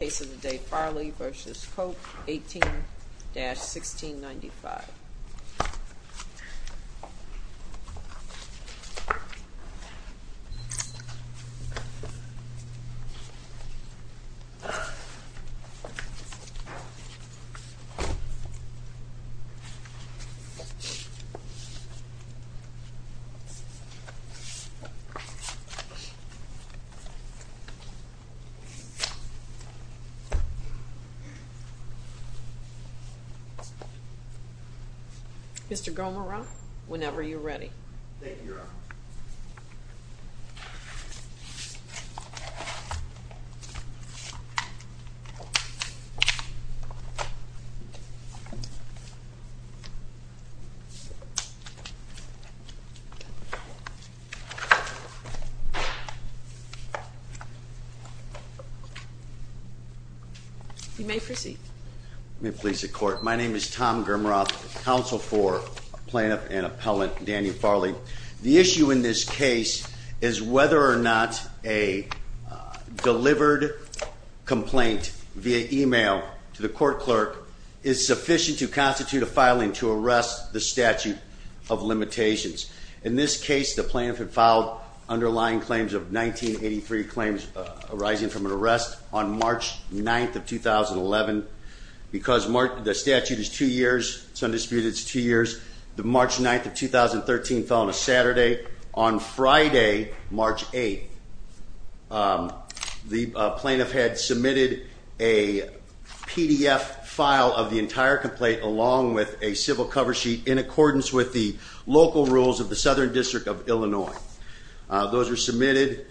Case of the Day, Farley v. Koepp, 18-1695 Mr. Gomorrah, whenever you're ready. You may proceed. May it please the court. My name is Tom Gomorrah, counsel for plaintiff and appellant Daniel Farley. The issue in this case is whether or not a delivered complaint via email to the court clerk is sufficient to constitute a filing to arrest the statute of limitations. In this case, the plaintiff had filed underlying claims of 1983 claims arising from an arrest on March 9th of 2011. Because the statute is two years, it's undisputed it's two years. The March 9th of 2013 fell on a Saturday. On Friday, March 8th, the plaintiff had submitted a PDF file of the entire complaint along with a civil cover sheet in accordance with the local rules of the Southern District of Illinois. Those were submitted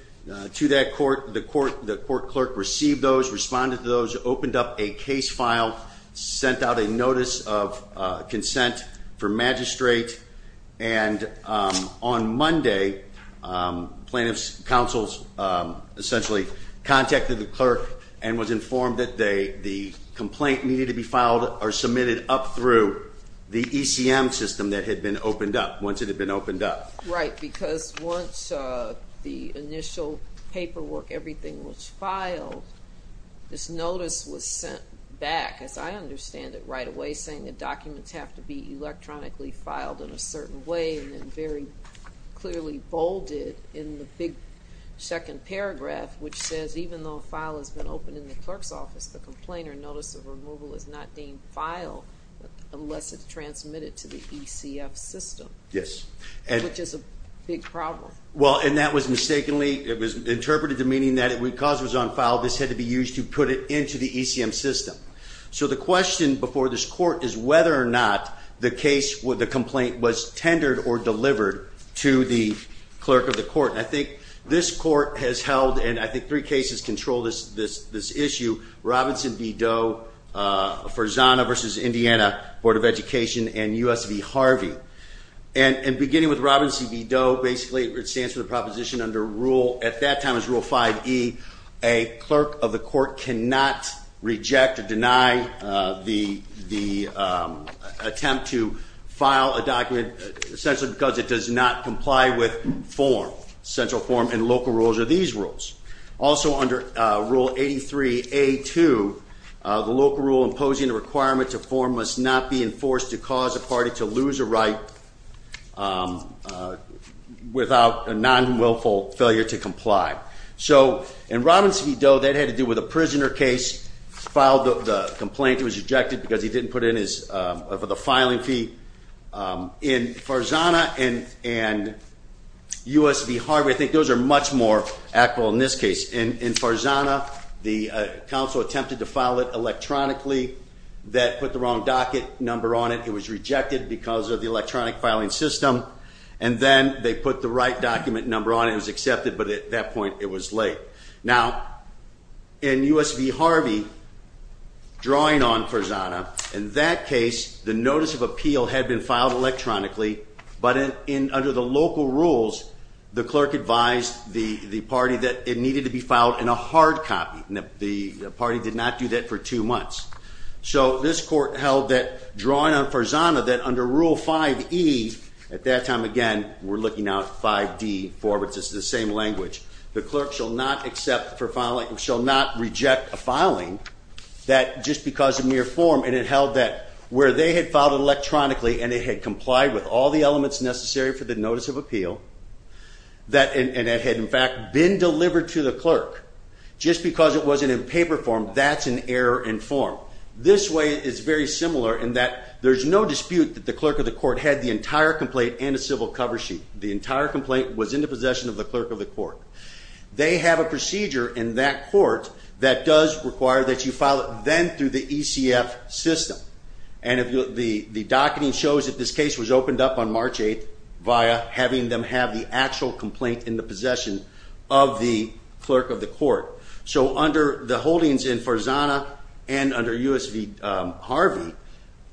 to that court. The court clerk received those, responded to those, opened up a case file, sent out a notice of consent for magistrate. And on Monday, plaintiff's counsel essentially contacted the clerk and was informed that the complaint needed to be filed or submitted up through the ECM system that had been opened up, once it had been opened up. Right, because once the initial paperwork, everything was filed, this notice was sent back, as I understand it, right away, saying the documents have to be electronically filed in a certain way and then very clearly bolded in the big second paragraph, which says even though a file has been opened in the clerk's office, the complainer notice of removal is not deemed filed unless it's transmitted to the ECF system. Yes. Which is a big problem. Well, and that was mistakenly, it was interpreted to meaning that because it was unfiled, this had to be used to put it into the ECM system. So the question before this court is whether or not the case, the complaint was tendered or delivered to the clerk of the court. I think this court has held, and I think three cases control this issue, Robinson v. Doe, Farzana v. Indiana, Board of Education, and US v. Harvey. And beginning with Robinson v. Doe, basically it stands for the proposition under rule, at that time it was rule 5E, a clerk of the court cannot reject or deny the attempt to file a document, essentially because it does not comply with form, central form, and local rules are these rules. Also under rule 83A2, the local rule imposing a requirement to form must not be enforced to cause a party to lose a right without a non-willful failure to comply. So in Robinson v. Doe, that had to do with a prisoner case, filed the complaint, it was rejected because he didn't put in the filing fee. In Farzana and US v. Harvey, I think those are much more actual in this case. In Farzana, the counsel attempted to file it electronically, that put the wrong docket number on it, it was rejected because of the electronic filing system, and then they put the right document number on it, it was accepted, but at that point it was late. Now, in US v. Harvey, drawing on Farzana, in that case, the notice of appeal had been filed electronically, but under the local rules, the clerk advised the party that it needed to be filed in a hard copy. The party did not do that for two months. So this court held that, drawing on Farzana, that under rule 5E, at that time, again, we're looking now at 5D4, which is the same language, the clerk shall not accept for filing, shall not reject a filing, that just because of mere form, and it held that where they had filed electronically, and it had complied with all the elements necessary for the notice of appeal, and it had in fact been delivered to the clerk, just because it wasn't in paper form, that's an error in form. This way is very similar in that there's no dispute that the clerk of the court had the entire complaint and a civil cover sheet. The entire complaint was in the possession of the clerk of the court. They have a procedure in that court that does require that you file it then through the ECF system, and the docketing shows that this case was opened up on March 8th via having them have the actual complaint in the possession of the clerk of the court. So under the holdings in Farzana and under U.S. v. Harvey,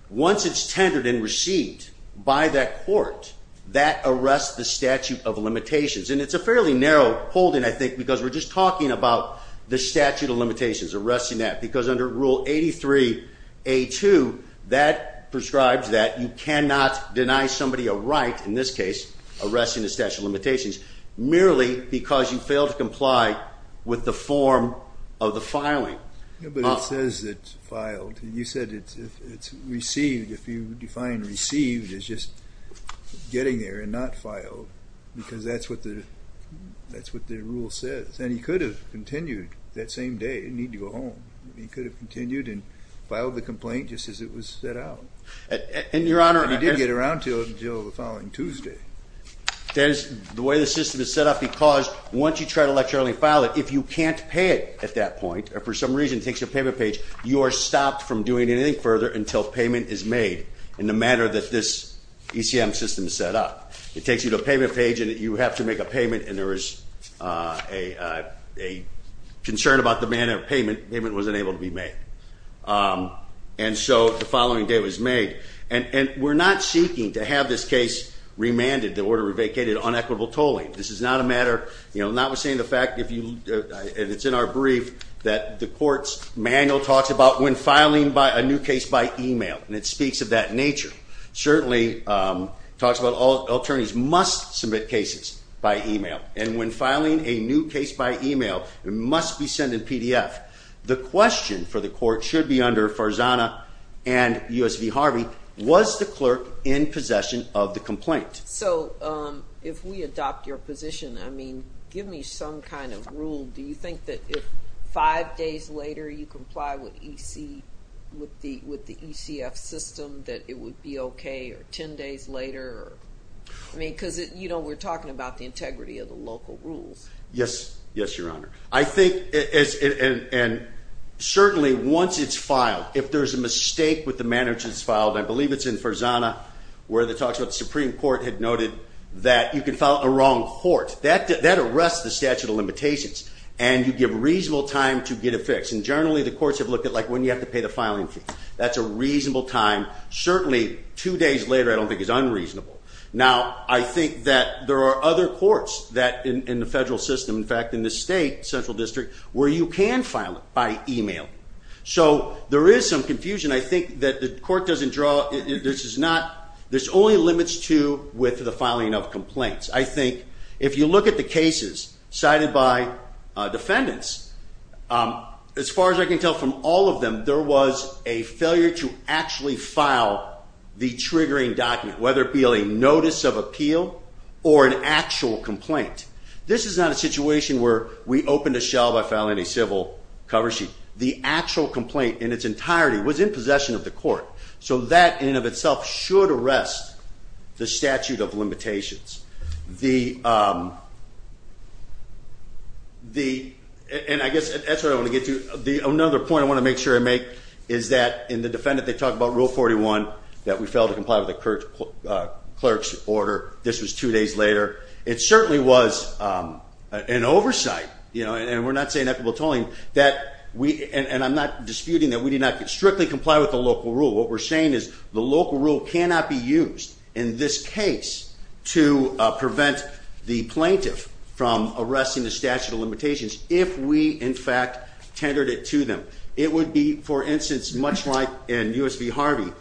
once it's tendered and received by that court, that arrests the statute of limitations, and it's a fairly narrow holding, I think, because we're just talking about the statute of limitations, arresting that, because under Rule 83A2, that prescribes that you cannot deny somebody a right, in this case, arresting the statute of limitations, merely because you failed to comply with the form of the filing. But it says it's filed. You said it's received. If you define received as just getting there and not filed, because that's what the rule says, then he could have continued that same day and didn't need to go home. He could have continued and filed the complaint just as it was set out. And, Your Honor, And he did get around to it until the following Tuesday. There's the way the system is set up because once you try to electronically file it, if you can't pay it at that point or for some reason it takes you to a payment page, you are stopped from doing anything further until payment is made in the manner that this ECM system is set up. It takes you to a payment page, and you have to make a payment, and there is a concern about the manner of payment. Payment was unable to be made. And so the following day it was made. And we're not seeking to have this case remanded, the order revocated, on equitable tolling. This is not a matter, you know, notwithstanding the fact, and it's in our brief, that the court's manual talks about when filing a new case by email, and it speaks of that nature. It certainly talks about all attorneys must submit cases by email. And when filing a new case by email, it must be sent in PDF. The question for the court should be under Farzana and U.S. v. Harvey, was the clerk in possession of the complaint? So if we adopt your position, I mean, give me some kind of rule. Do you think that if five days later you comply with the ECF system, that it would be okay? Or ten days later? I mean, because, you know, we're talking about the integrity of the local rules. Yes. Yes, Your Honor. I think, and certainly once it's filed, if there's a mistake with the manner in which it's filed, I believe it's in Farzana where it talks about the Supreme Court had noted that you can file a wrong court. That arrests the statute of limitations, and you give reasonable time to get it fixed. And generally the courts have looked at, like, when you have to pay the filing fee. That's a reasonable time. Certainly two days later I don't think is unreasonable. Now, I think that there are other courts in the federal system, in fact, in the state central district, where you can file it by email. So there is some confusion. I think that the court doesn't draw – this only limits to with the filing of complaints. I think if you look at the cases cited by defendants, as far as I can tell from all of them, there was a failure to actually file the triggering document, whether it be a notice of appeal or an actual complaint. This is not a situation where we opened a shell by filing a civil cover sheet. The actual complaint in its entirety was in possession of the court. So that in and of itself should arrest the statute of limitations. The – and I guess that's what I want to get to. Another point I want to make sure I make is that in the defendant they talk about Rule 41, that we failed to comply with the clerk's order. This was two days later. It certainly was an oversight, you know, and we're not saying equitable tolling, that we – and I'm not disputing that we did not strictly comply with the local rule. What we're saying is the local rule cannot be used in this case to prevent the plaintiff from arresting the statute of limitations if we, in fact, tendered it to them. It would be, for instance, much like in U.S. v. Harvey.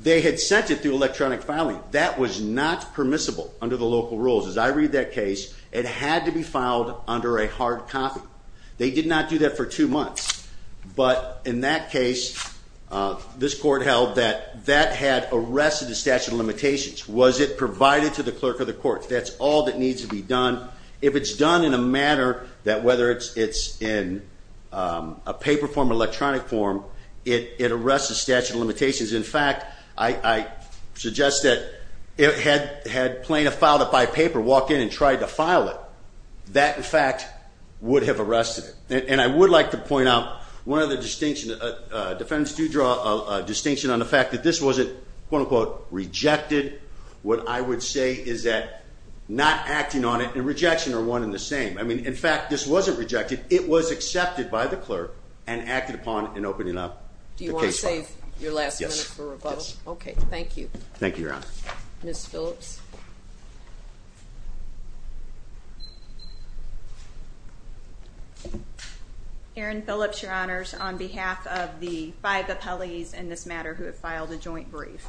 They had sent it through electronic filing. That was not permissible under the local rules. As I read that case, it had to be filed under a hard copy. They did not do that for two months. But in that case, this court held that that had arrested the statute of limitations. Was it provided to the clerk of the court? That's all that needs to be done. If it's done in a manner that whether it's in a paper form or electronic form, it arrests the statute of limitations. In fact, I suggest that if it had plaintiff filed it by paper, walked in and tried to file it, that, in fact, would have arrested it. And I would like to point out one other distinction. Defendants do draw a distinction on the fact that this wasn't, quote, unquote, rejected. What I would say is that not acting on it and rejection are one and the same. I mean, in fact, this wasn't rejected. It was accepted by the clerk and acted upon in opening up the case file. Do you want to save your last minute for rebuttal? Yes. Okay, thank you. Thank you, Your Honor. Ms. Phillips? Erin Phillips, Your Honors, on behalf of the five appellees in this matter who have filed a joint brief.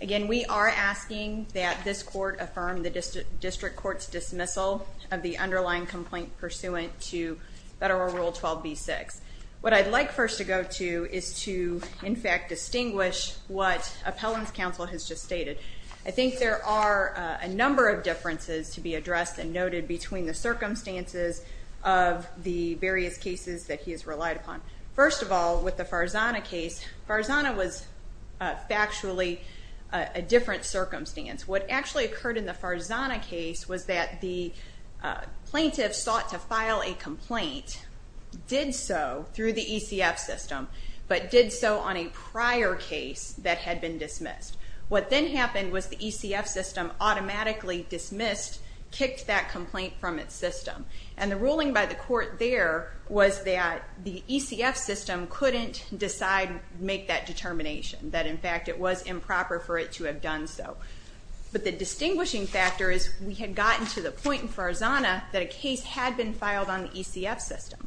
Again, we are asking that this court affirm the district court's dismissal of the underlying complaint pursuant to Federal Rule 12b-6. What I'd like first to go to is to, in fact, distinguish what appellant's counsel has just stated. I think there are a number of differences to be addressed and noted between the circumstances of the various cases that he has relied upon. First of all, with the Farzana case, Farzana was factually a different circumstance. What actually occurred in the Farzana case was that the plaintiff sought to file a complaint, did so through the ECF system, but did so on a prior case that had been dismissed. What then happened was the ECF system automatically dismissed, kicked that complaint from its system. And the ruling by the court there was that the ECF system couldn't decide, make that determination, that, in fact, it was improper for it to have done so. But the distinguishing factor is we had gotten to the point in Farzana that a case had been filed on the ECF system.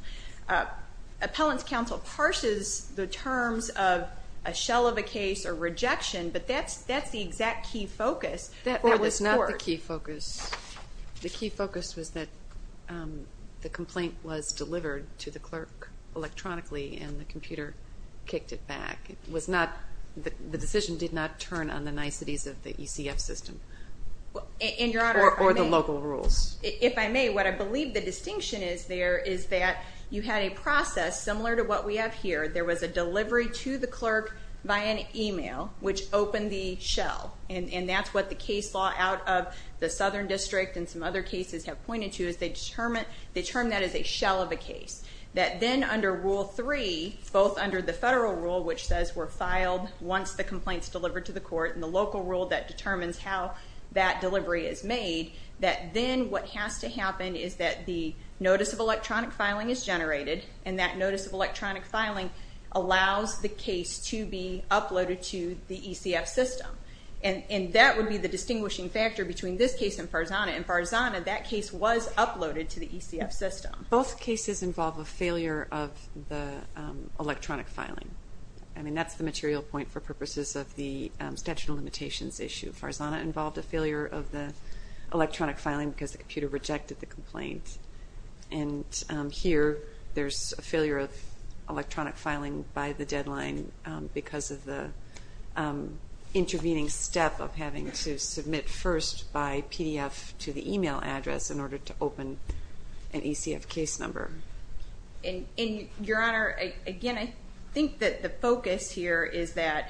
Appellant's counsel parses the terms of a shell of a case or rejection, but that's the exact key focus for this court. That was not the key focus. The key focus was that the complaint was delivered to the clerk electronically and the computer kicked it back. It was not, the decision did not turn on the niceties of the ECF system. In your honor, if I may. Or the local rules. If I may, what I believe the distinction is there is that you had a process similar to what we have here. There was a delivery to the clerk via an email, which opened the shell. And that's what the case law out of the Southern District and some other cases have pointed to, is they term that as a shell of a case. That then under Rule 3, both under the federal rule, which says we're filed once the complaint's delivered to the court, and the local rule that determines how that delivery is made, that then what has to happen is that the notice of electronic filing is generated, and that notice of electronic filing allows the case to be uploaded to the ECF system. And that would be the distinguishing factor between this case and Farzana. In Farzana, that case was uploaded to the ECF system. Both cases involve a failure of the electronic filing. I mean, that's the material point for purposes of the statute of limitations issue. Farzana involved a failure of the electronic filing because the computer rejected the complaint. And here there's a failure of electronic filing by the deadline because of the intervening step of having to submit first by PDF to the email address in order to open an ECF case number. And, Your Honor, again, I think that the focus here is that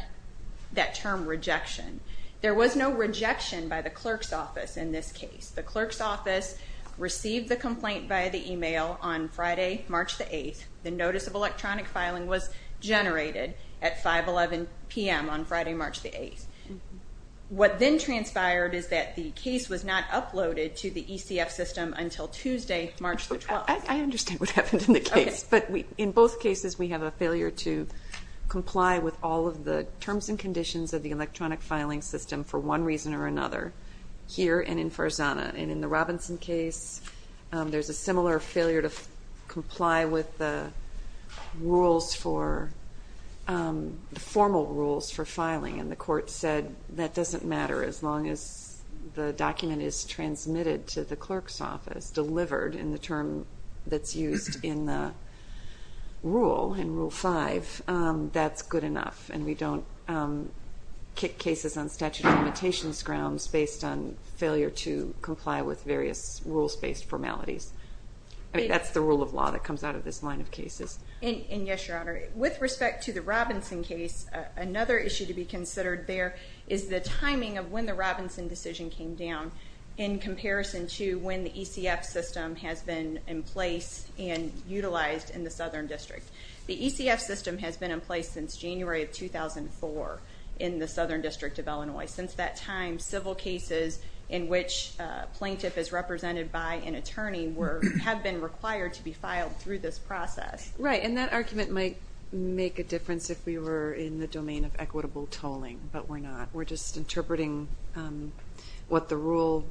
term rejection. There was no rejection by the clerk's office in this case. The clerk's office received the complaint via the email on Friday, March the 8th. The notice of electronic filing was generated at 511 p.m. on Friday, March the 8th. What then transpired is that the case was not uploaded to the ECF system until Tuesday, March the 12th. I understand what happened in the case. But in both cases we have a failure to comply with all of the terms and conditions of the electronic filing system for one reason or another here and in Farzana. And in the Robinson case, there's a similar failure to comply with the rules for the formal rules for filing. And the court said that doesn't matter as long as the document is transmitted to the clerk's office, is delivered in the term that's used in the rule, in Rule 5, that's good enough. And we don't kick cases on statute of limitations grounds based on failure to comply with various rules-based formalities. I mean, that's the rule of law that comes out of this line of cases. And, yes, Your Honor, with respect to the Robinson case, another issue to be considered there is the timing of when the Robinson decision came down in comparison to when the ECF system has been in place and utilized in the Southern District. The ECF system has been in place since January of 2004 in the Southern District of Illinois. Since that time, civil cases in which a plaintiff is represented by an attorney have been required to be filed through this process. Right, and that argument might make a difference if we were in the domain of equitable tolling, but we're not. We're just interpreting what the rule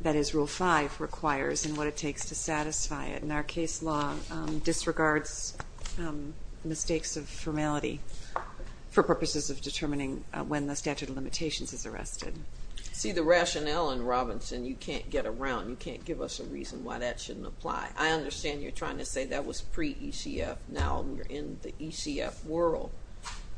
that is Rule 5 requires and what it takes to satisfy it. And our case law disregards mistakes of formality for purposes of determining when the statute of limitations is arrested. See, the rationale in Robinson, you can't get around, you can't give us a reason why that shouldn't apply. I understand you're trying to say that was pre-ECF, now we're in the ECF world,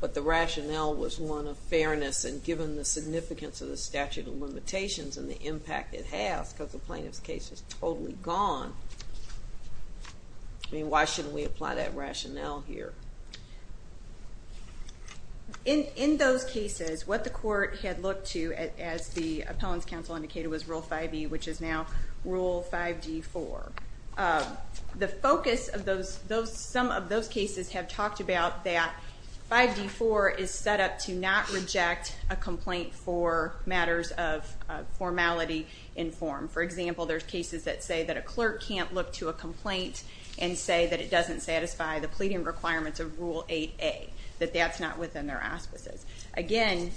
but the rationale was one of fairness and given the significance of the statute of limitations and the impact it has because the plaintiff's case is totally gone. I mean, why shouldn't we apply that rationale here? In those cases, what the court had looked to, as the appellant's counsel indicated, was Rule 5E, which is now Rule 5D4. The focus of some of those cases have talked about that 5D4 is set up to not reject a complaint for matters of formality in form. For example, there's cases that say that a clerk can't look to a complaint and say that it doesn't satisfy the pleading requirements of Rule 8A, that that's not within their auspices. Again,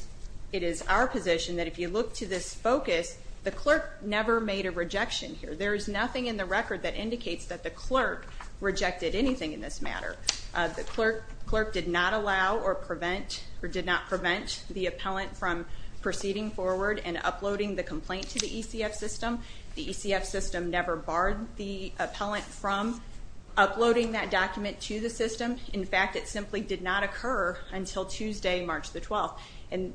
it is our position that if you look to this focus, the clerk never made a rejection here. There is nothing in the record that indicates that the clerk rejected anything in this matter. The clerk did not allow or prevent or did not prevent the appellant from proceeding forward and uploading the complaint to the ECF system. The ECF system never barred the appellant from uploading that document to the system. In fact, it simply did not occur until Tuesday, March the 12th.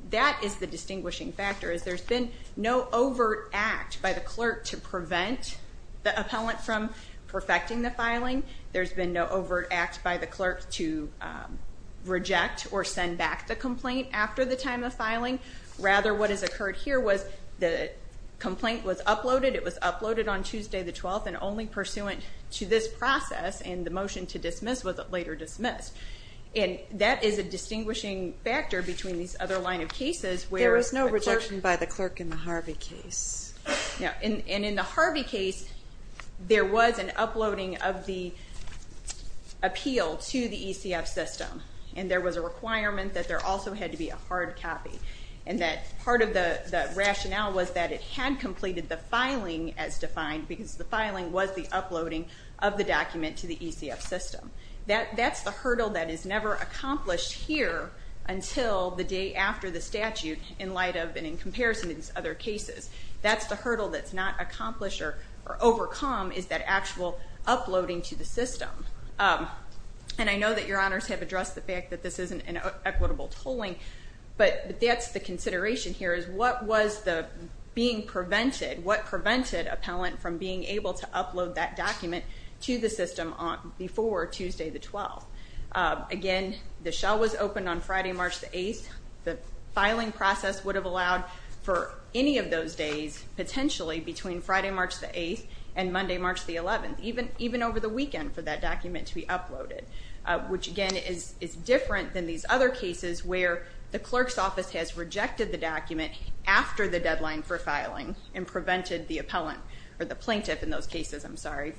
That is the distinguishing factor. There's been no overt act by the clerk to prevent the appellant from perfecting the filing. There's been no overt act by the clerk to reject or send back the complaint after the time of filing. Rather, what has occurred here was the complaint was uploaded. It was uploaded on Tuesday the 12th and only pursuant to this process, and the motion to dismiss was later dismissed. And that is a distinguishing factor between these other line of cases where the clerk- There was no rejection by the clerk in the Harvey case. And in the Harvey case, there was an uploading of the appeal to the ECF system, and there was a requirement that there also had to be a hard copy, and that part of the rationale was that it had completed the filing as defined because the filing was the uploading of the document to the ECF system. That's the hurdle that is never accomplished here until the day after the statute in light of and in comparison to these other cases. That's the hurdle that's not accomplished or overcome is that actual uploading to the system. And I know that your honors have addressed the fact that this isn't an equitable tolling, but that's the consideration here is what was being prevented, what prevented appellant from being able to upload that document to the system before Tuesday the 12th. Again, the shell was opened on Friday, March the 8th. The filing process would have allowed for any of those days, potentially between Friday, March the 8th and Monday, March the 11th, even over the weekend for that document to be uploaded, which, again, is different than these other cases where the clerk's office has rejected the document after the deadline for filing and prevented the plaintiff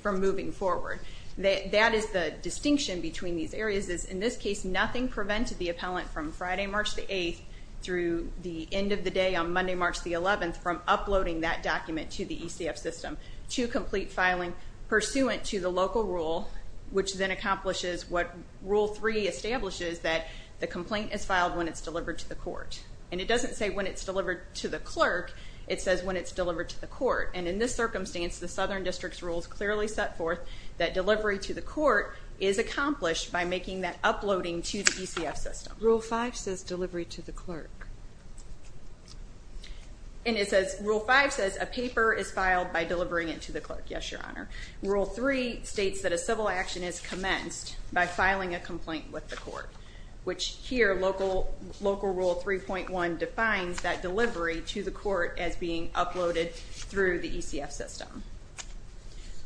from moving forward. That is the distinction between these areas is, in this case, nothing prevented the appellant from Friday, March the 8th through the end of the day on Monday, March the 11th, from uploading that document to the ECF system to complete filing pursuant to the local rule, which then accomplishes what Rule 3 establishes, that the complaint is filed when it's delivered to the court. And it doesn't say when it's delivered to the clerk. It says when it's delivered to the court. And in this circumstance, the Southern District's rules clearly set forth that delivery to the court is accomplished by making that uploading to the ECF system. Rule 5 says delivery to the clerk. And it says Rule 5 says a paper is filed by delivering it to the clerk. Yes, Your Honor. Rule 3 states that a civil action is commenced by filing a complaint with the court, which here Local Rule 3.1 defines that delivery to the court as being uploaded through the ECF system.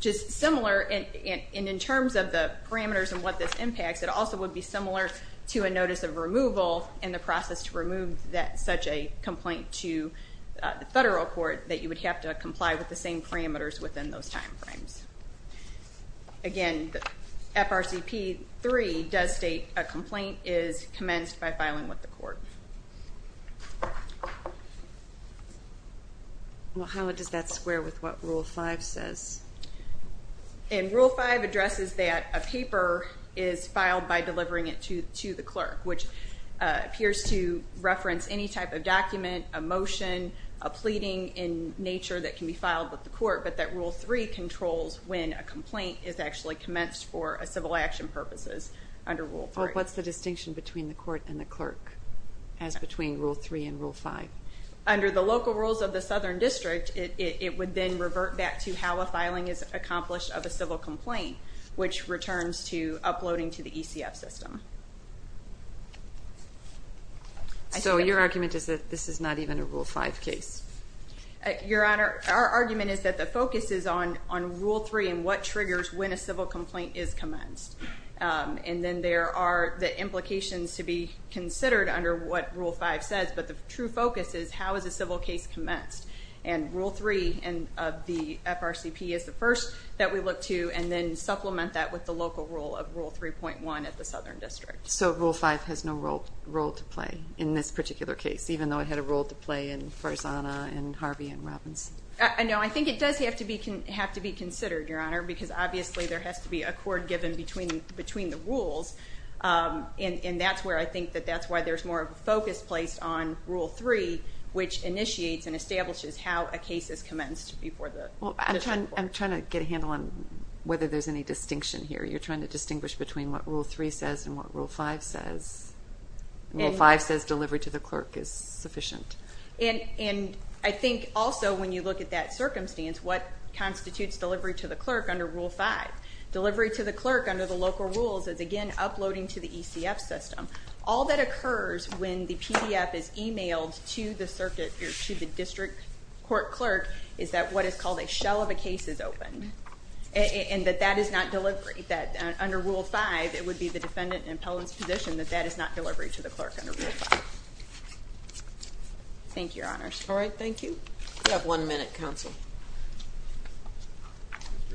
Just similar, and in terms of the parameters and what this impacts, it also would be similar to a notice of removal and the process to remove such a complaint to the federal court that you would have to comply with the same parameters within those time frames. Again, FRCP 3 does state a complaint is commenced by filing with the court. How does that square with what Rule 5 says? Rule 5 addresses that a paper is filed by delivering it to the clerk, which appears to reference any type of document, a motion, a pleading in nature that can be filed with the court, but that Rule 3 controls when a complaint is actually commenced for a civil action purposes under Rule 3. What's the distinction between the court and the clerk as between Rule 3 and Rule 5? Under the local rules of the Southern District, it would then revert back to how a filing is accomplished of a civil complaint, which returns to uploading to the ECF system. So your argument is that this is not even a Rule 5 case? Your Honor, our argument is that the focus is on Rule 3 and what triggers when a civil complaint is commenced, and then there are the implications to be considered under what Rule 5 says, but the true focus is how is a civil case commenced, and Rule 3 of the FRCP is the first that we look to, and then supplement that with the local rule of Rule 3.1 of the Southern District. So Rule 5 has no role to play in this particular case, even though it had a role to play in Farzana and Harvey and Robbins? No, I think it does have to be considered, Your Honor, because obviously there has to be a court given between the rules, and that's where I think that that's why there's more focus placed on Rule 3, which initiates and establishes how a case is commenced before the district court. Well, I'm trying to get a handle on whether there's any distinction here. You're trying to distinguish between what Rule 3 says and what Rule 5 says. Rule 5 says delivery to the clerk is sufficient. And I think also when you look at that circumstance, what constitutes delivery to the clerk under Rule 5? Delivery to the clerk under the local rules is, again, uploading to the ECF system. All that occurs when the PDF is emailed to the district court clerk is that what is called a shell of a case is opened, and that that is not delivery, that under Rule 5, it would be the defendant and appellant's position that that is not delivery to the clerk under Rule 5. Thank you, Your Honor. All right, thank you. You have one minute, counsel. Thank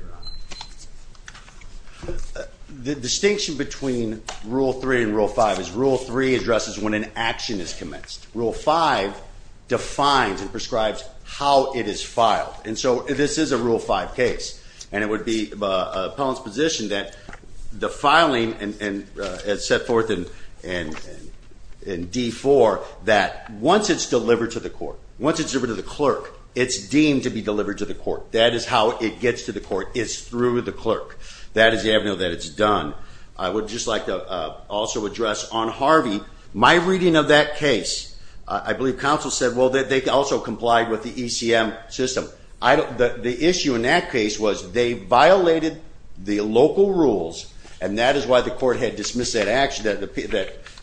you, Your Honor. The distinction between Rule 3 and Rule 5 is Rule 3 addresses when an action is commenced. Rule 5 defines and prescribes how it is filed. And so this is a Rule 5 case, and it would be an appellant's position that the filing is set forth in D4 that once it's delivered to the court, once it's delivered to the clerk, it's deemed to be delivered to the court. That is how it gets to the court is through the clerk. That is the avenue that it's done. I would just like to also address on Harvey, my reading of that case, I believe counsel said, well, they also complied with the ECM system. The issue in that case was they violated the local rules, and that is why the court had dismissed that action.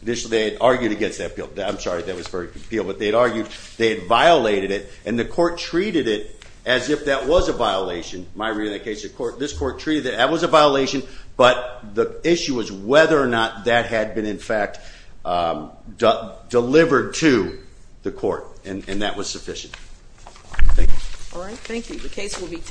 Initially they had argued against that appeal. I'm sorry, that was for appeal, but they had argued. They had violated it, and the court treated it as if that was a violation. My reading of that case, this court treated it as if that was a violation, but the issue was whether or not that had been, in fact, delivered to the court, and that was sufficient. Thank you. All right, thank you.